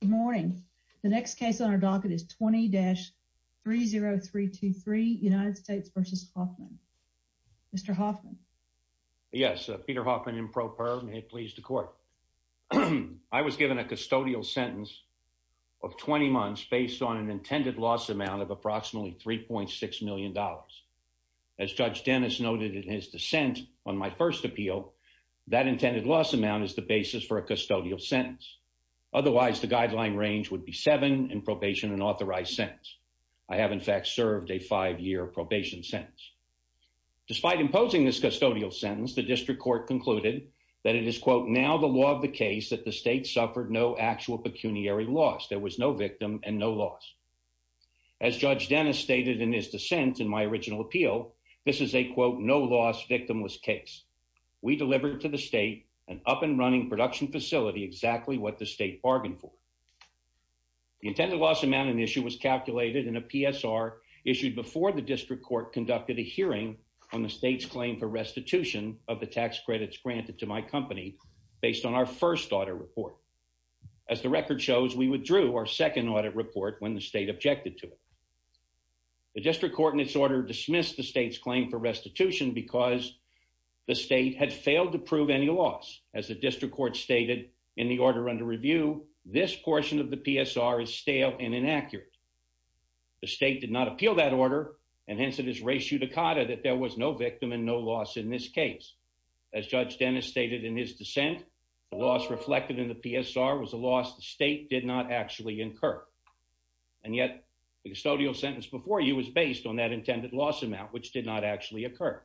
Good morning. The next case on our docket is 20-30323 United States v. Hoffman. Mr. Hoffman. Yes, Peter Hoffman in pro per, may it please the court. I was given a custodial sentence of 20 months based on an intended loss amount of approximately 3.6 million dollars. As Judge Dennis noted in his dissent on my first appeal, that intended loss amount is the basis for a custodial sentence. Otherwise the guideline range would be seven in probation and authorized sentence. I have in fact served a five-year probation sentence. Despite imposing this custodial sentence, the district court concluded that it is quote now the law of the case that the state suffered no actual pecuniary loss. There was no victim and no loss. As Judge Dennis stated in his dissent in my original appeal, this is a quote no loss victimless case. We delivered to the state an up and running production facility exactly what the state bargained for. The intended loss amount of the issue was calculated in a PSR issued before the district court conducted a hearing on the state's claim for restitution of the tax credits granted to my company based on our first audit report. As the record shows, we withdrew our second audit report when the state objected to it. The district court in its order dismissed the state's claim for As the district court stated in the order under review, this portion of the PSR is stale and inaccurate. The state did not appeal that order and hence it is res judicata that there was no victim and no loss in this case. As Judge Dennis stated in his dissent, the loss reflected in the PSR was a loss the state did not actually incur. And yet the custodial sentence before you was based on that intended loss amount which did not actually occur.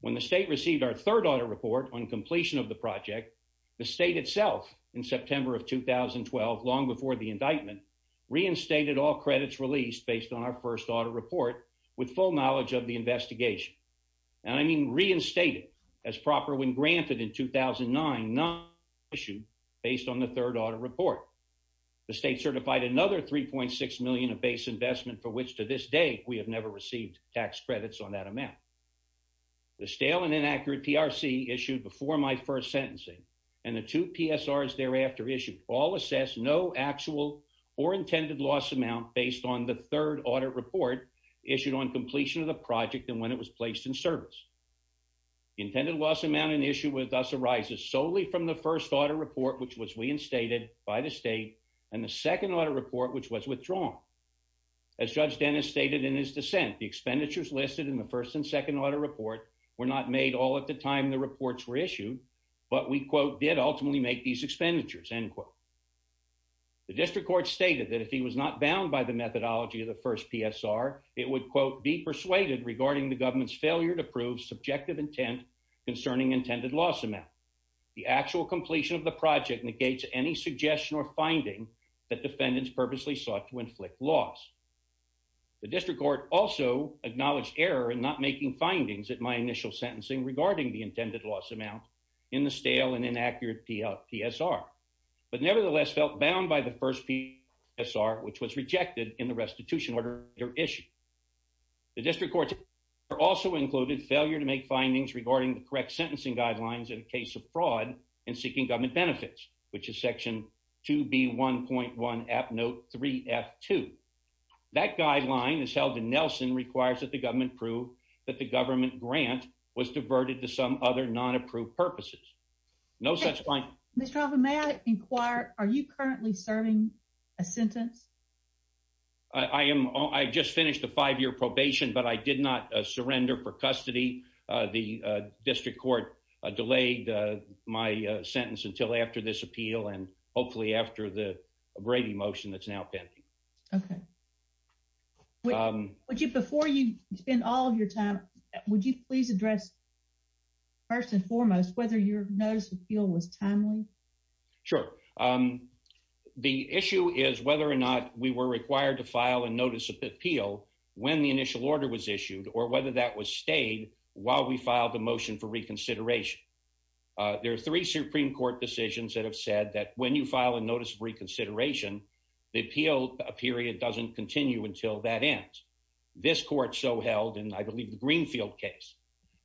When the state received our third audit report on completion of the project, the state itself in September of 2012, long before the indictment, reinstated all credits released based on our first audit report with full knowledge of the investigation. And I mean reinstated as proper when granted in 2009, not issued based on the third audit report. The state certified another 3.6 million of base investment for which to this day we have never received tax credits on that amount. The stale and inaccurate PRC issued before my first sentencing and the two PSRs thereafter issued all assess no actual or intended loss amount based on the third audit report issued on completion of the project and when it was placed in service. Intended loss amount and issue with us arises solely from the first audit report which was reinstated by the state and the second audit report which was withdrawn. As Judge Dennis stated in his dissent, the expenditures listed in the first and second audit report were not made all at the time the reports were issued but we quote did ultimately make these expenditures end quote. The district court stated that if he was not bound by the methodology of the first PSR, it would quote be persuaded regarding the government's failure to prove subjective intent concerning intended loss amount. The actual completion of the project negates any suggestion or finding that defendants purposely sought to inflict loss. The district court also acknowledged error in not making findings at my initial sentencing regarding the intended loss amount in the stale and inaccurate PSR but nevertheless felt bound by the first PSR which was rejected in the restitution order issue. The district court also included failure to make findings regarding the correct sentencing guidelines in a case of fraud and seeking government benefits which is section 2b 1.1 app note 3 f 2. That guideline is held in Nelson requires that the government prove that the government grant was diverted to some other non-approved purposes. No such line. Mr. Hoffman, may I inquire are you currently serving a sentence? I am. I just finished a five-year probation but I did not surrender for custody. The district court delayed my sentence until after this appeal and hopefully after the Brady motion that's now pending. Okay. Would you before you spend all of your time, would you please address first and foremost whether your notice appeal was timely? Sure. The issue is whether or not we were required to file a notice of appeal when the initial order was issued or whether that was pending. There are three supreme court decisions that have said that when you file a notice of reconsideration the appeal period doesn't continue until that ends. This court so held and I believe the Greenfield case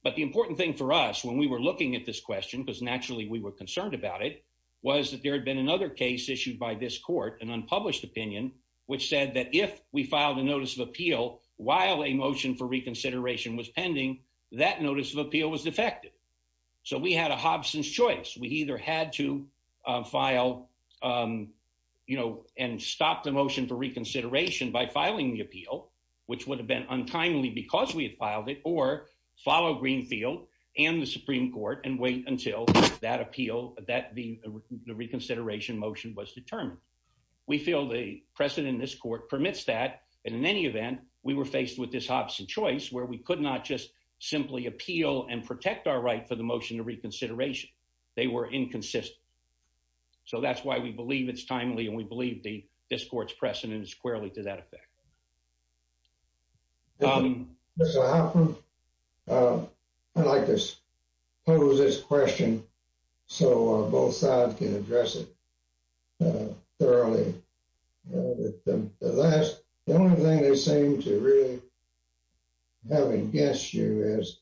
but the important thing for us when we were looking at this question because naturally we were concerned about it was that there had been another case issued by this court an unpublished opinion which said that if we filed a notice of appeal while a motion for so we had a Hobson's choice. We either had to file you know and stop the motion for reconsideration by filing the appeal which would have been untimely because we had filed it or follow Greenfield and the Supreme Court and wait until that appeal that the reconsideration motion was determined. We feel the precedent in this court permits that and in any event we were faced with this Hobson choice where we could not just simply appeal and protect our right for the motion to reconsideration. They were inconsistent so that's why we believe it's timely and we believe the this court's precedent is squarely to that effect. I'd like to pose this question so both sides can have against you is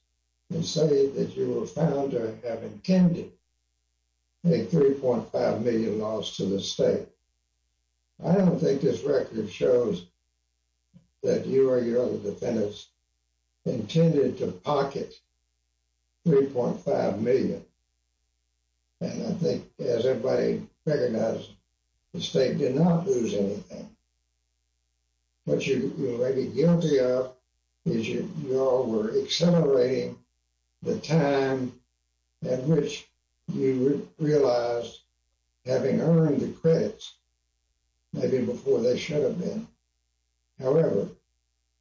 and say that you were found to have intended a 3.5 million loss to the state. I don't think this record shows that you or your other defendants intended to pocket 3.5 million and I think as everybody recognizes the state did not lose anything. What you may be guilty of is you all were accelerating the time at which you realized having earned the credits maybe before they should have been. However,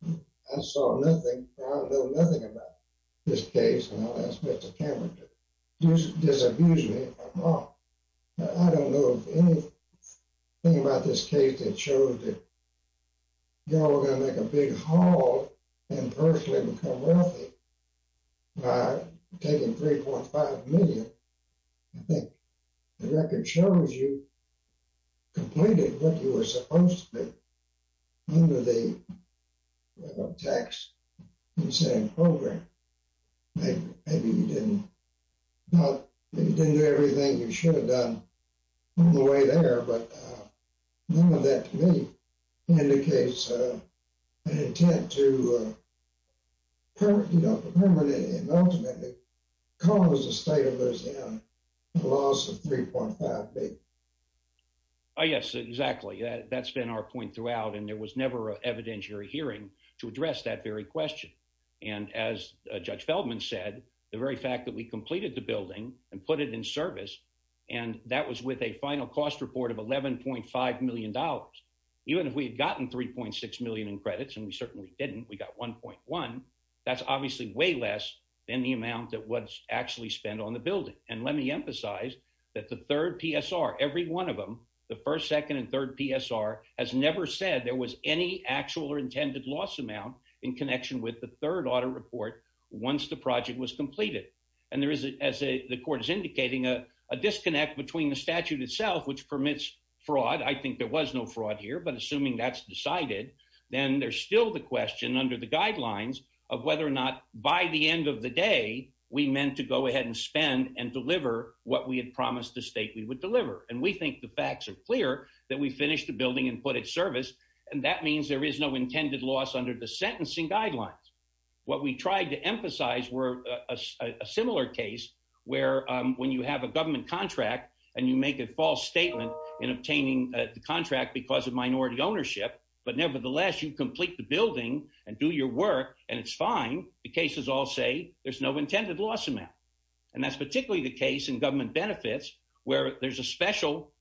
I saw nothing I don't know nothing about this case and I'll ask Mr. Cameron to just disabuse me. I don't know anything about this case that showed that y'all were going to make a big haul and personally become wealthy by taking 3.5 million. I think the record shows you completed what you were supposed to be under the tax incentive program. Maybe you didn't do everything you should have done on the way there but none of that to me indicates an intent to permanently and ultimately cause the state of Louisiana a loss of 3.5 billion. Yes, exactly. That's been our point throughout and there was never an evidentiary hearing to address that very question and as Judge Feldman said the very fact that we completed the building and put it in service and that was with a final cost report of 11.5 million dollars even if we had gotten 3.6 million in credits and we certainly didn't we got 1.1 that's obviously way less than the amount that was actually spent on the building and let me emphasize that the third PSR every one of them the first second and third PSR has never said there was any actual or intended loss amount in connection with the third audit report once the project was the court is indicating a disconnect between the statute itself which permits fraud I think there was no fraud here but assuming that's decided then there's still the question under the guidelines of whether or not by the end of the day we meant to go ahead and spend and deliver what we had promised the state we would deliver and we think the facts are clear that we finished the building and put it service and that means there is no intended loss under the sentencing guidelines what we tried to emphasize were a similar case where when you have a government contract and you make a false statement in obtaining the contract because of minority ownership but nevertheless you complete the building and do your work and it's fine the cases all say there's no intended loss amount and that's particularly the case in government benefits where there's a special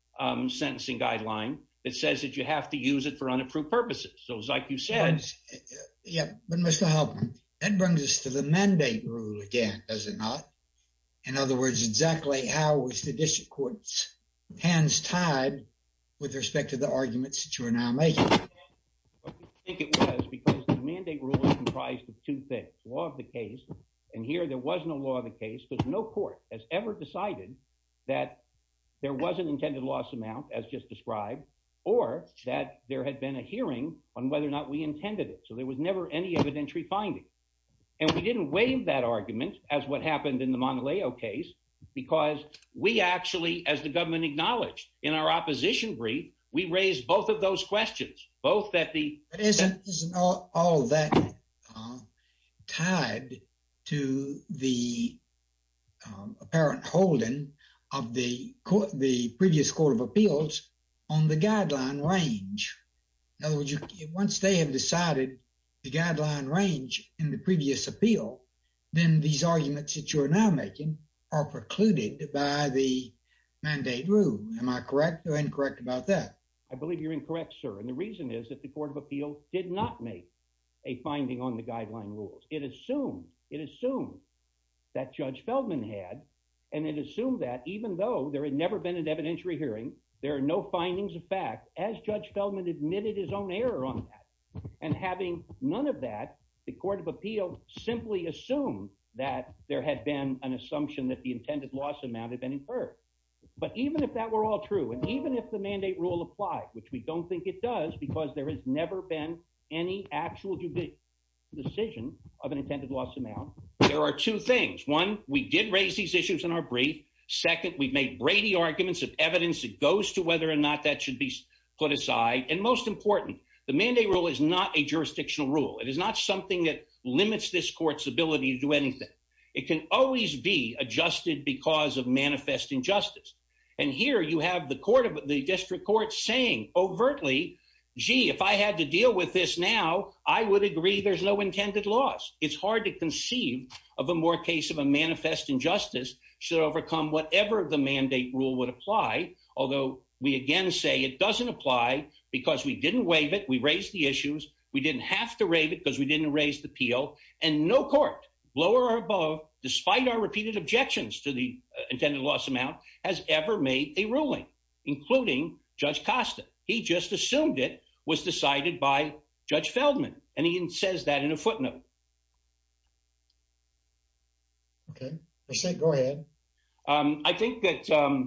sentencing guideline that says that you have to use it for unapproved purposes so it's like you said yeah but mr helpman that brings us to the mandate rule again does it not in other words exactly how was the district court's hands tied with respect to the arguments that you are now making I think it was because the mandate rule is comprised of two things law of the case and here there was no law of the case because no court has ever decided that there was an intended loss amount as just described or that there had been a hearing on whether or not we intended it so there was never any evidentiary finding and we didn't waive that argument as what happened in the monteleo case because we actually as the government acknowledged in our opposition brief we raised both of those questions both that the isn't all that tied to the apparent holding of the court appeals on the guideline range in other words once they have decided the guideline range in the previous appeal then these arguments that you are now making are precluded by the mandate rule am I correct or incorrect about that I believe you're incorrect sir and the reason is that the court of appeal did not make a finding on the guideline rules it assumed it assumed that judge there are no findings of fact as judge Feldman admitted his own error on that and having none of that the court of appeal simply assumed that there had been an assumption that the intended loss amount had been inferred but even if that were all true and even if the mandate rule applied which we don't think it does because there has never been any actual decision of an intended loss amount there are two things one we did raise these issues in our brief second we've made Brady arguments of evidence that goes to whether or not that should be put aside and most important the mandate rule is not a jurisdictional rule it is not something that limits this court's ability to do anything it can always be adjusted because of manifest injustice and here you have the court of the district court saying overtly gee if I had to deal with this now I would agree there's no intended loss it's hard to conceive of a more case of a manifest injustice should overcome whatever the mandate rule would apply although we again say it doesn't apply because we didn't waive it we raised the issues we didn't have to rave it because we didn't raise the appeal and no court lower or above despite our repeated objections to the intended loss amount has ever made a ruling including judge Costa he just assumed it was decided by judge Feldman and he I think that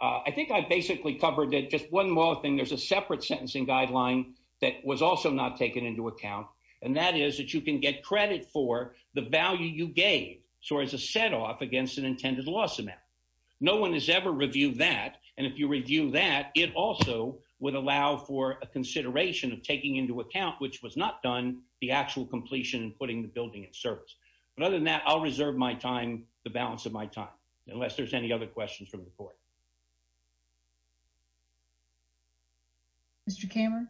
I think I basically covered it just one more thing there's a separate sentencing guideline that was also not taken into account and that is that you can get credit for the value you gave so as a set off against an intended loss amount no one has ever reviewed that and if you review that it also would allow for a consideration of taking into account which was not done the actual completion and putting the building in service but other than that I'll leave it at that and that's the balance of my time unless there's any other questions from the court Mr. Kammer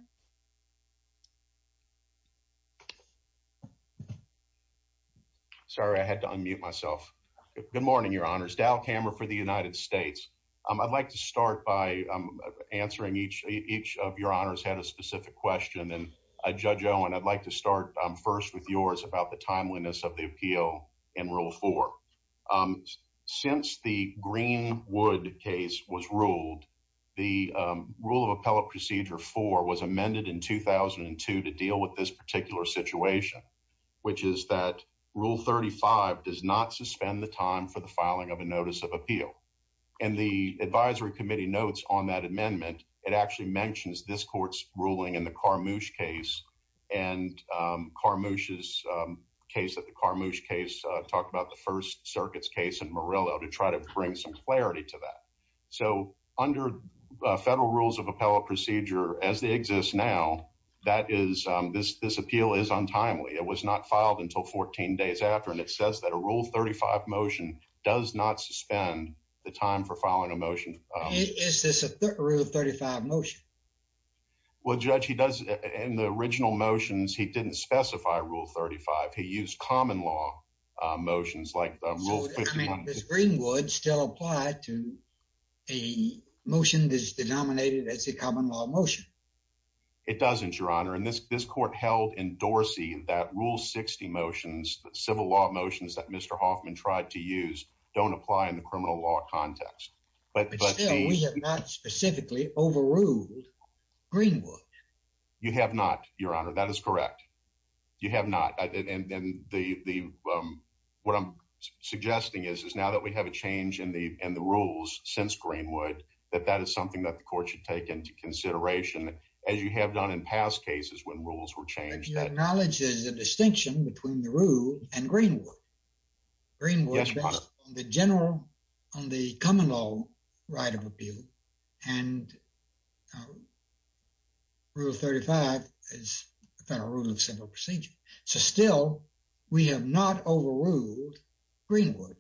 sorry I had to unmute myself good morning your honors Dow Kammer for the United States um I'd like to start by um answering each each of your honors had a specific question and Judge Owen I'd like to start first with yours about the timeliness of the appeal in rule four since the Greenwood case was ruled the rule of appellate procedure four was amended in 2002 to deal with this particular situation which is that rule 35 does not suspend the time for the filing of a notice of appeal and the advisory committee notes on that amendment it actually mentions this court's ruling in the Karmush case and Karmush's case that the Karmush case talked about the first circuit's case in Morello to try to bring some clarity to that so under federal rules of appellate procedure as they exist now that is this this appeal is untimely it was not filed until 14 days after and it says that a rule 35 motion does not suspend the time for filing a motion is this a rule of 35 motion well judge he does in the original motions he didn't specify rule 35 he used common law motions like rule I mean does Greenwood still apply to a motion that's denominated as a common law motion it doesn't your honor and this this court held in Dorsey that rule 60 motions the civil law motions that Mr. Hoffman tried to use don't apply in the criminal law context but we have not specifically overruled Greenwood you have not your honor that is correct you have not and then the the um what I'm suggesting is is now that we have a change in the and the rules since Greenwood that that is something that the court should take into consideration as you have done in past cases when rules were the general on the common law right of appeal and rule 35 is the federal rule of civil procedure so still we have not overruled Greenwood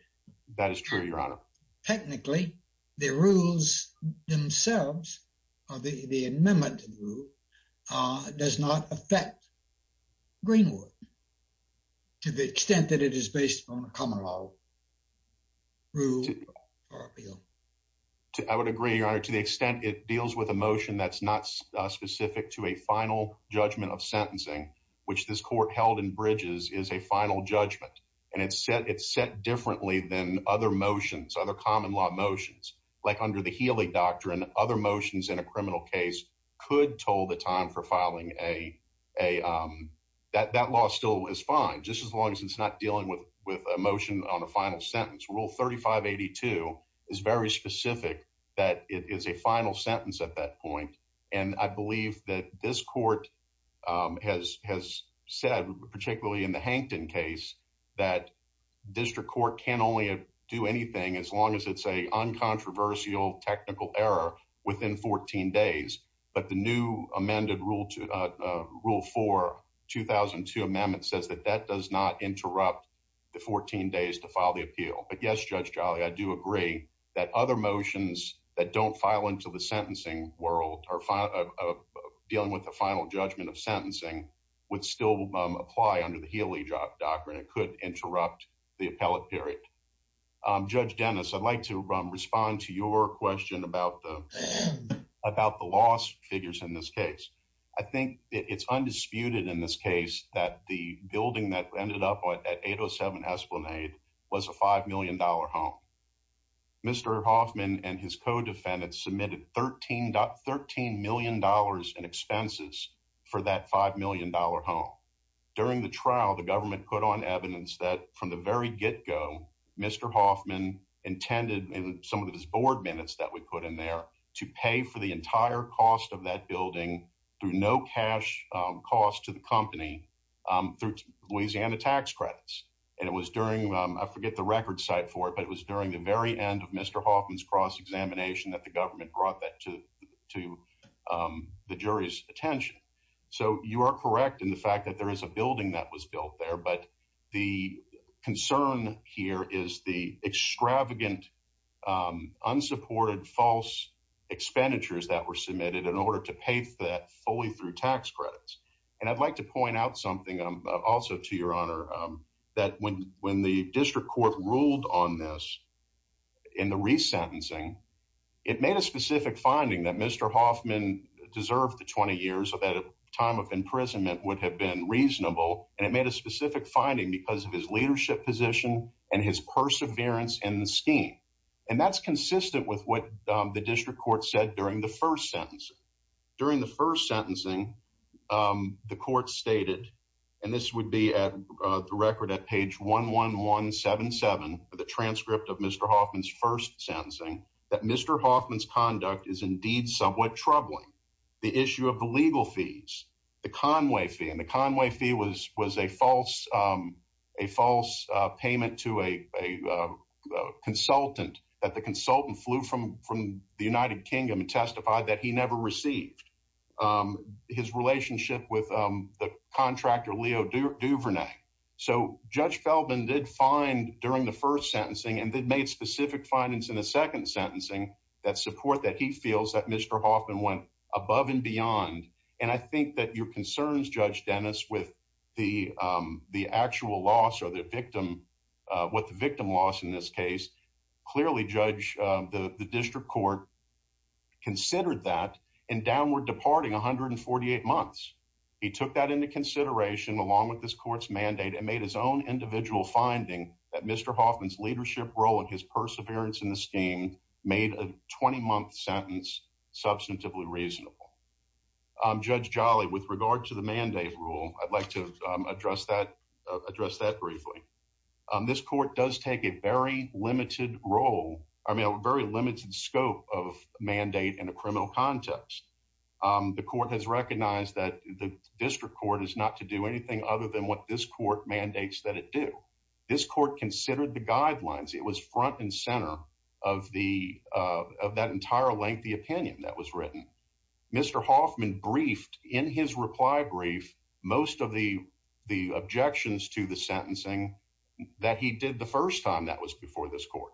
that is true your honor technically the rules themselves are the the amendment to the rule uh does not affect Greenwood to the extent that it is based on a common law rule for appeal I would agree your honor to the extent it deals with a motion that's not specific to a final judgment of sentencing which this court held in bridges is a final judgment and it's set it's set differently than other motions other common law motions like under the Healy doctrine other motions in a criminal case could toll the time for filing a a um that that law still is fine just as long as it's not dealing with with a motion on a final sentence rule 3582 is very specific that it is a final sentence at that point and I believe that this court um has has said particularly in the Hankton case that district court can only do anything as long as it's a uncontroversial technical error within 14 days but the new amended rule to uh rule 4 2002 amendment says that that does not interrupt the 14 days to file the appeal but yes Judge Jolly I do agree that other motions that don't file into the sentencing world are dealing with the final judgment of sentencing would still apply under the Healy doctrine it could interrupt the appellate period um Judge Dennis I'd like to in this case I think it's undisputed in this case that the building that ended up at 807 Esplanade was a five million dollar home Mr. Hoffman and his co-defendants submitted 13 13 million dollars in expenses for that five million dollar home during the trial the government put on evidence that from the very get-go Mr. Hoffman intended in some of his board minutes that we put in there to pay for the entire cost of that building through no cash cost to the company through Louisiana tax credits and it was during I forget the record site for it but it was during the very end of Mr. Hoffman's cross examination that the government brought that to to the jury's attention so you are correct in the fact that there is a building that was built there but the concern here is the extravagant unsupported false expenditures that were submitted in order to pay that fully through tax credits and I'd like to point out something also to your honor that when when the district court ruled on this in the resentencing it made a specific finding that Mr. Hoffman deserved the 20 years of that time of imprisonment would have reasonable and it made a specific finding because of his leadership position and his perseverance in the scheme and that's consistent with what the district court said during the first sentence during the first sentencing the court stated and this would be at the record at page 11177 for the transcript of Mr. Hoffman's first sentencing that Mr. Hoffman's conduct is somewhat troubling the issue of the legal fees the conway fee and the conway fee was was a false a false payment to a a consultant that the consultant flew from from the united kingdom and testified that he never received his relationship with the contractor leo duvernay so judge feldman did find during the first sentencing and then made specific findings in the second sentencing that support that he feels that Mr. Hoffman went above and beyond and I think that your concerns judge dennis with the um the actual loss or the victim uh what the victim loss in this case clearly judge uh the the district court considered that in downward departing 148 months he took that into consideration along with this court's mandate and made his own individual finding that Mr. Hoffman's leadership role in his perseverance in the scheme made a 20-month sentence substantively reasonable um judge jolly with regard to the mandate rule i'd like to um address that address that briefly um this court does take a very limited role I mean a very limited scope of mandate in a criminal context um the court has recognized that the district court is not to do anything other than what this court mandates that it do this court considered the guidelines it was front and center of the uh of that entire lengthy opinion that was written Mr. Hoffman briefed in his reply brief most of the the objections to the sentencing that he did the first time that was before this court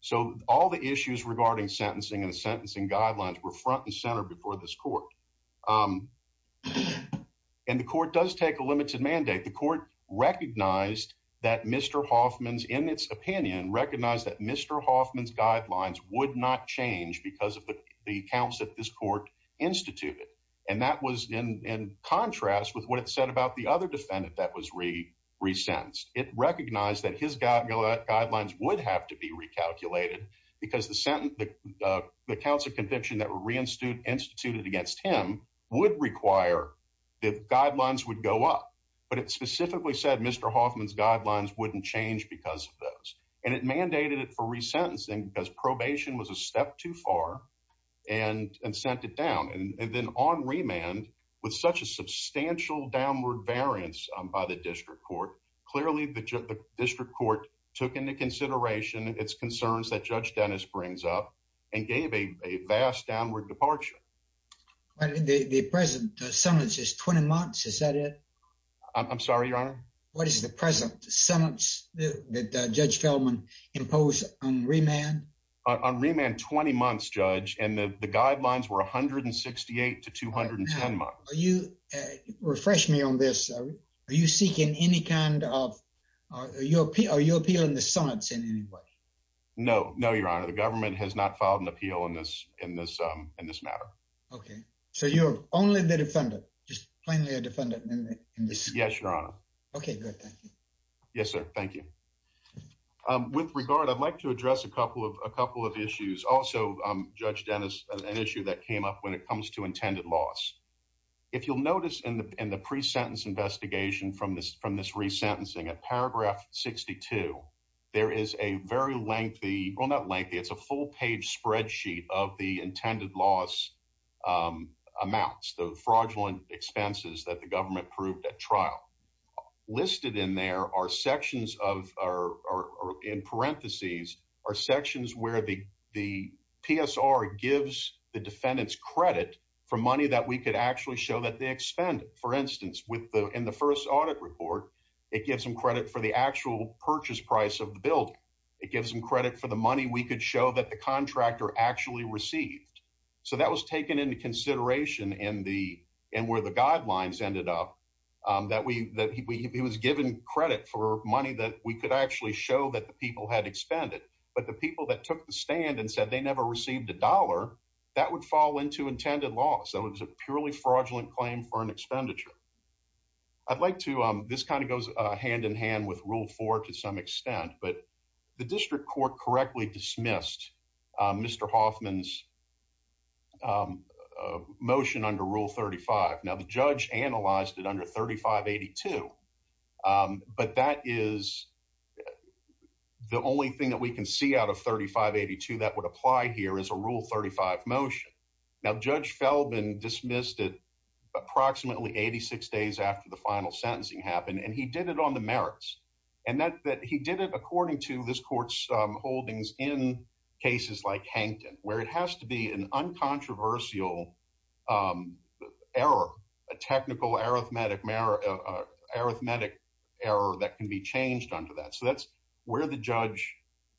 so all the issues regarding sentencing and sentencing guidelines were front and center before this court um and the court does take a limited mandate the court recognized that Mr. Hoffman's in its opinion recognized that Mr. Hoffman's guidelines would not change because of the accounts that this court instituted and that was in in contrast with what it said about the other defendant that was re-sentenced it recognized that his guidelines would have to be recalculated because the sentence the accounts of conviction that were reinstated instituted against him would require the guidelines would go up but it specifically said Mr. Hoffman's guidelines wouldn't change because of those and it mandated it for re-sentencing because probation was a step too far and and sent it down and then on remand with such a substantial downward variance by the district court clearly the district court took into consideration its concerns that Judge Dennis brings up and gave a vast downward departure but the the present sentence is 20 months is that it i'm sorry your honor what is the present sentence that Judge Feldman imposed on remand on remand 20 months judge and the the guidelines were 168 to 210 months you refresh me on this are you seeking any kind of are you appeal are you appealing the summons in any way no no your honor the government has not filed an appeal in this in this um in this matter okay so you're only the defendant just plainly a defendant in this yes your honor okay good thank you yes sir thank you um with regard i'd like to address a couple of a it comes to intended loss if you'll notice in the in the pre-sentence investigation from this from this re-sentencing at paragraph 62 there is a very lengthy well not lengthy it's a full page spreadsheet of the intended loss um amounts the fraudulent expenses that the government proved at trial listed in there are sections of are in parentheses are sections where the psr gives the defendant's credit for money that we could actually show that they expended for instance with the in the first audit report it gives them credit for the actual purchase price of the building it gives them credit for the money we could show that the contractor actually received so that was taken into consideration in the and where the guidelines ended up um that we that he was given credit for money that we could actually show that the people had expended but the people that took the stand and said they never received a dollar that would fall into intended loss so it was a purely fraudulent claim for an expenditure i'd like to um this kind of goes uh hand in hand with rule four to some extent but the district court correctly dismissed um mr hoffman's um motion under rule 35 now the judge analyzed it under 35 82 um but that is yeah the only thing that we can see out of 35 82 that would apply here is a rule 35 motion now judge felbin dismissed it approximately 86 days after the final sentencing happened and he did it on the merits and that that he did it according to this court's um holdings in cases like hankton where it has to be an uncontroversial um error a technical arithmetic arithmetic error that can be changed under that so that's where the judge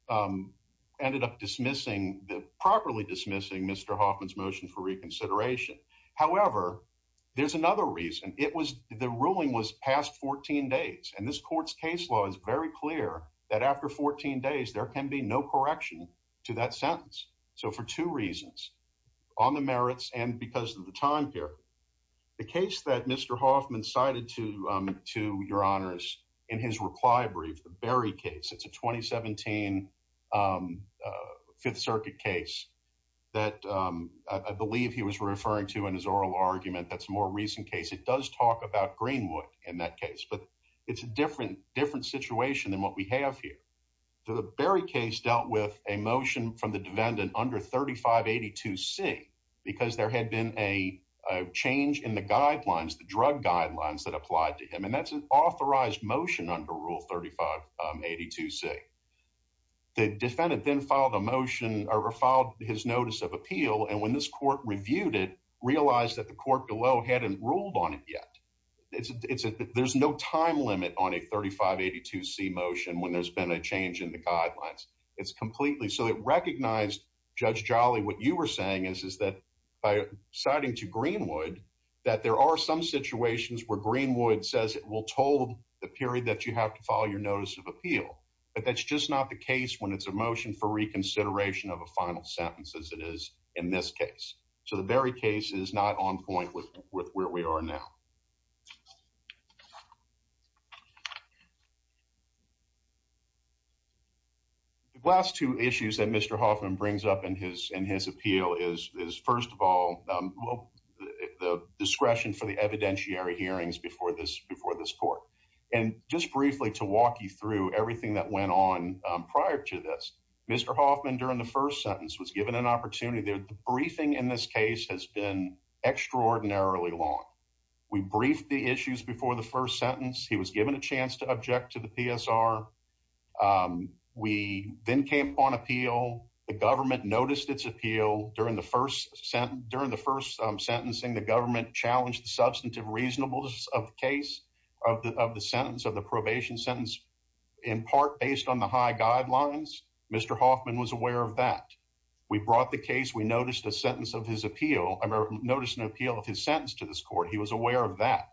um ended up dismissing the properly dismissing mr hoffman's motion for reconsideration however there's another reason it was the ruling was past 14 days and this court's case law is very clear that after 14 days there can be no correction to that sentence so for two reasons on the merits and because of the time period the case that mr hoffman cited to um to your honors in his reply brief the berry case it's a 2017 um uh fifth circuit case that um i believe he was referring to in his oral argument that's more recent case it does talk about greenwood in that case but it's a different different situation than what we have here so the berry case dealt with a motion from the defendant under 35 c because there had been a change in the guidelines the drug guidelines that applied to him and that's an authorized motion under rule 35 82 c the defendant then filed a motion or filed his notice of appeal and when this court reviewed it realized that the court below hadn't ruled on it yet it's it's a there's no time limit on a 35 82 c motion when there's been a change in guidelines it's completely so it recognized judge jolly what you were saying is is that by citing to greenwood that there are some situations where greenwood says it will told the period that you have to follow your notice of appeal but that's just not the case when it's a motion for reconsideration of a final sentence as it is in this case so the very case is not with where we are now the last two issues that mr hoffman brings up in his in his appeal is is first of all the discretion for the evidentiary hearings before this before this court and just briefly to walk you through everything that went on prior to this mr hoffman during the first sentence was given an extraordinary long we briefed the issues before the first sentence he was given a chance to object to the psr um we then came upon appeal the government noticed its appeal during the first sentence during the first um sentencing the government challenged the substantive reasonableness of the case of the of the sentence of the probation sentence in part based on the high guidelines mr hoffman was aware of that we brought the case we noticed a sentence of his appeal i noticed an appeal of his sentence to this court he was aware of that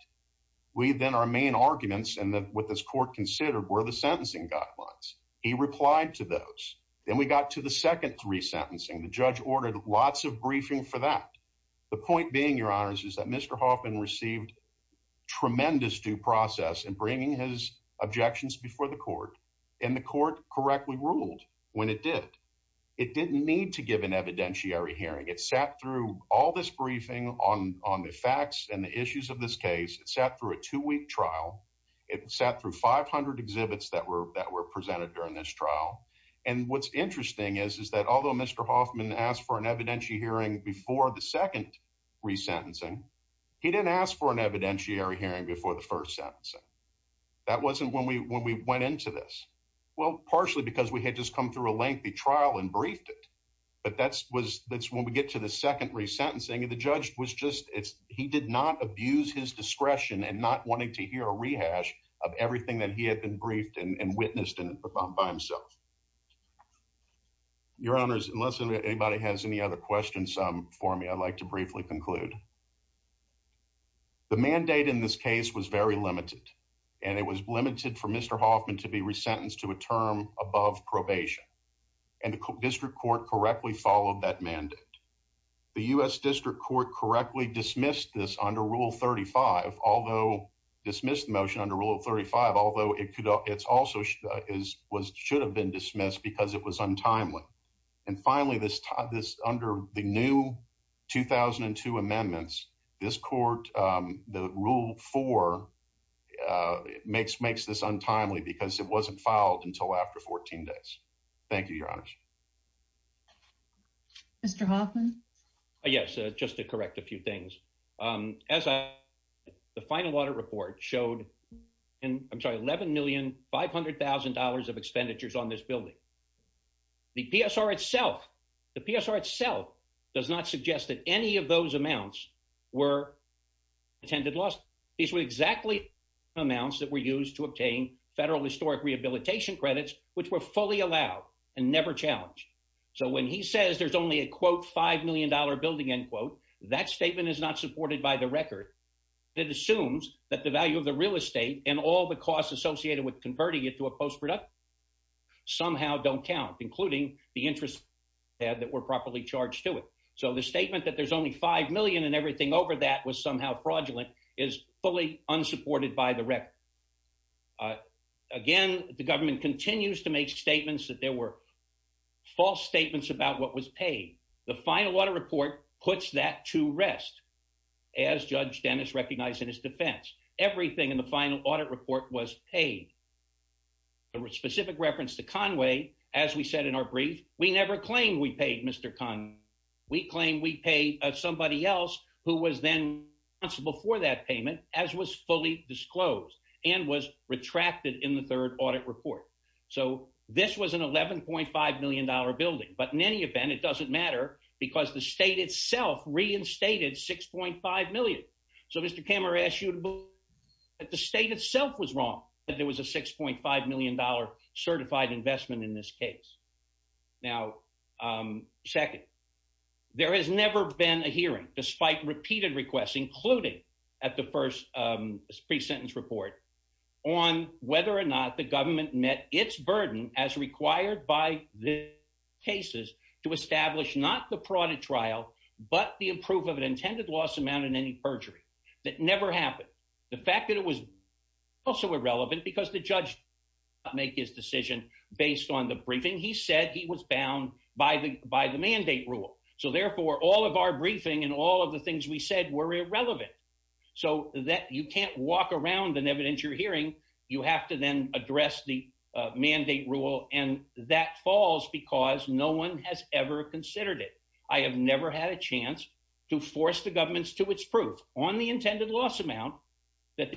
we then our main arguments and that what this court considered were the sentencing guidelines he replied to those then we got to the second three sentencing the judge ordered lots of briefing for that the point being your honors is that mr hoffman received tremendous due process in bringing his objections before the court and the court correctly ruled when it did it didn't need to give an evidentiary hearing it sat through all this briefing on on the facts and the issues of this case it sat through a two-week trial it sat through 500 exhibits that were that were presented during this trial and what's interesting is is that although mr hoffman asked for an evidentiary hearing before the second re-sentencing he didn't ask for an evidentiary hearing before the first sentencing that wasn't when we when we went into this well partially because we had just come through a lengthy trial and briefed it but that's was that's when we get to the second re-sentencing and the judge was just it's he did not abuse his discretion and not wanting to hear a rehash of everything that he had been briefed and witnessed in by himself your honors unless anybody has any other questions um for me i'd like to briefly conclude the mandate in this case was very limited and it was limited for mr hoffman to be probation and the district court correctly followed that mandate the u.s district court correctly dismissed this under rule 35 although dismissed the motion under rule 35 although it could it's also is was should have been dismissed because it was untimely and finally this this under the new 2002 amendments this court um the rule four uh makes makes this untimely because it wasn't filed until after 14 days thank you your honors mr hoffman yes just to correct a few things um as i the final audit report showed and i'm sorry 11 million five hundred thousand dollars of expenditures on this building the psr itself the psr itself does not suggest that any of those amounts were attended lost these were exactly amounts that were used to obtain federal historic rehabilitation credits which were fully allowed and never challenged so when he says there's only a quote five million dollar building end quote that statement is not supported by the record it assumes that the value of the real estate and all the costs associated with converting it to a post-production somehow don't count including the interest had that were properly charged to it so the statement that there's only five million and everything over that was somehow fraudulent is fully unsupported by the record uh again the government continues to make statements that there were false statements about what was paid the final audit report puts that to rest as judge dennis recognized in his defense everything in the final audit report was paid a specific reference to we claim we pay somebody else who was then responsible for that payment as was fully disclosed and was retracted in the third audit report so this was an 11.5 million dollar building but in any event it doesn't matter because the state itself reinstated 6.5 million so mr camera asked you to believe that the state itself was wrong that there was a 6.5 million dollar certified investment in this case now um second there has never been a hearing despite repeated requests including at the first um pre-sentence report on whether or not the government met its burden as required by the cases to establish not the parodic trial but the approval of an intended loss amount in any perjury that never happened the fact that it was also irrelevant because the judge make his decision based on the briefing he said he was bound by the by the mandate rule so therefore all of our briefing and all of the things we said were irrelevant so that you can't walk around an evidence you're hearing you have to then address the mandate rule and that falls because no one has ever considered it i have never had a chance to force the governments to its proof on the intended loss amount that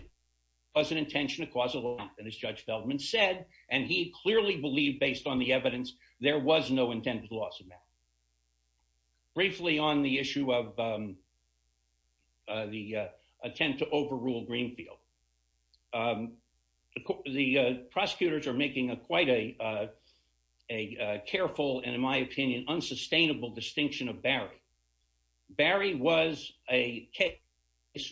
was an intention and as judge Feldman said and he clearly believed based on the evidence there was no intended loss of math briefly on the issue of um uh the uh attempt to overrule greenfield the prosecutors are making a quite a uh a careful and in my opinion unsustainable distinction of case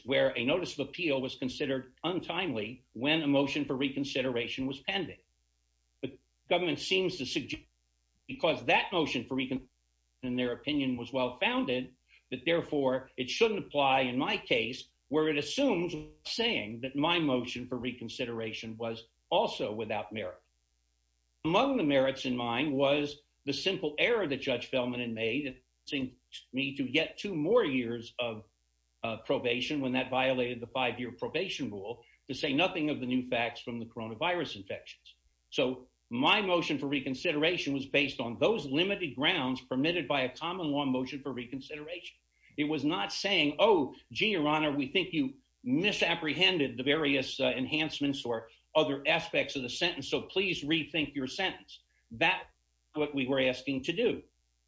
where a notice of appeal was considered untimely when a motion for reconsideration was pending but government seems to suggest because that motion for reconsideration in their opinion was well founded that therefore it shouldn't apply in my case where it assumes saying that my motion for reconsideration was also without merit among the merits in mind was the simple error that judge Feldman and made seeing me to get two more years of probation when that violated the five-year probation rule to say nothing of the new facts from the coronavirus infections so my motion for reconsideration was based on those limited grounds permitted by a common law motion for reconsideration it was not saying oh gee your honor we think you misapprehended the various enhancements or other aspects of the sentence so please rethink your sentence that what we were asking to do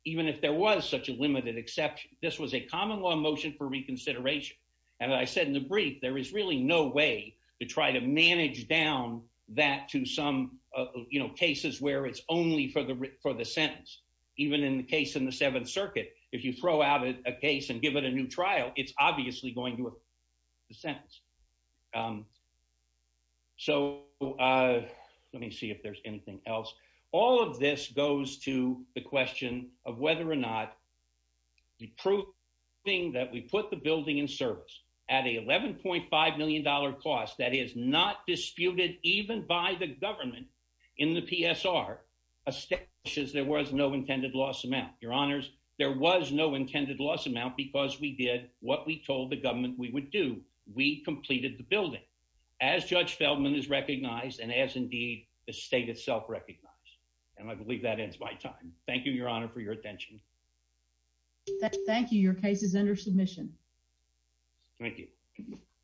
even if there was such a limited exception this was a common law motion for reconsideration and i said in the brief there is really no way to try to manage down that to some uh you know cases where it's only for the for the sentence even in the case in the seventh circuit if you throw out a case and give it a new trial it's obviously going to affect the sentence um so uh let me see if there's anything else all of this goes to the question of whether or not the proof thing that we put the building in service at a 11.5 million dollar cost that is not disputed even by the government in the psr establishes there was no intended loss amount your honors there was no intended loss amount because we did what we told the government we would do we completed the building as judge Feldman is recognized and as indeed the state itself recognized and i believe that ends my time thank you your honor for your attention thank you your case is under submission thank you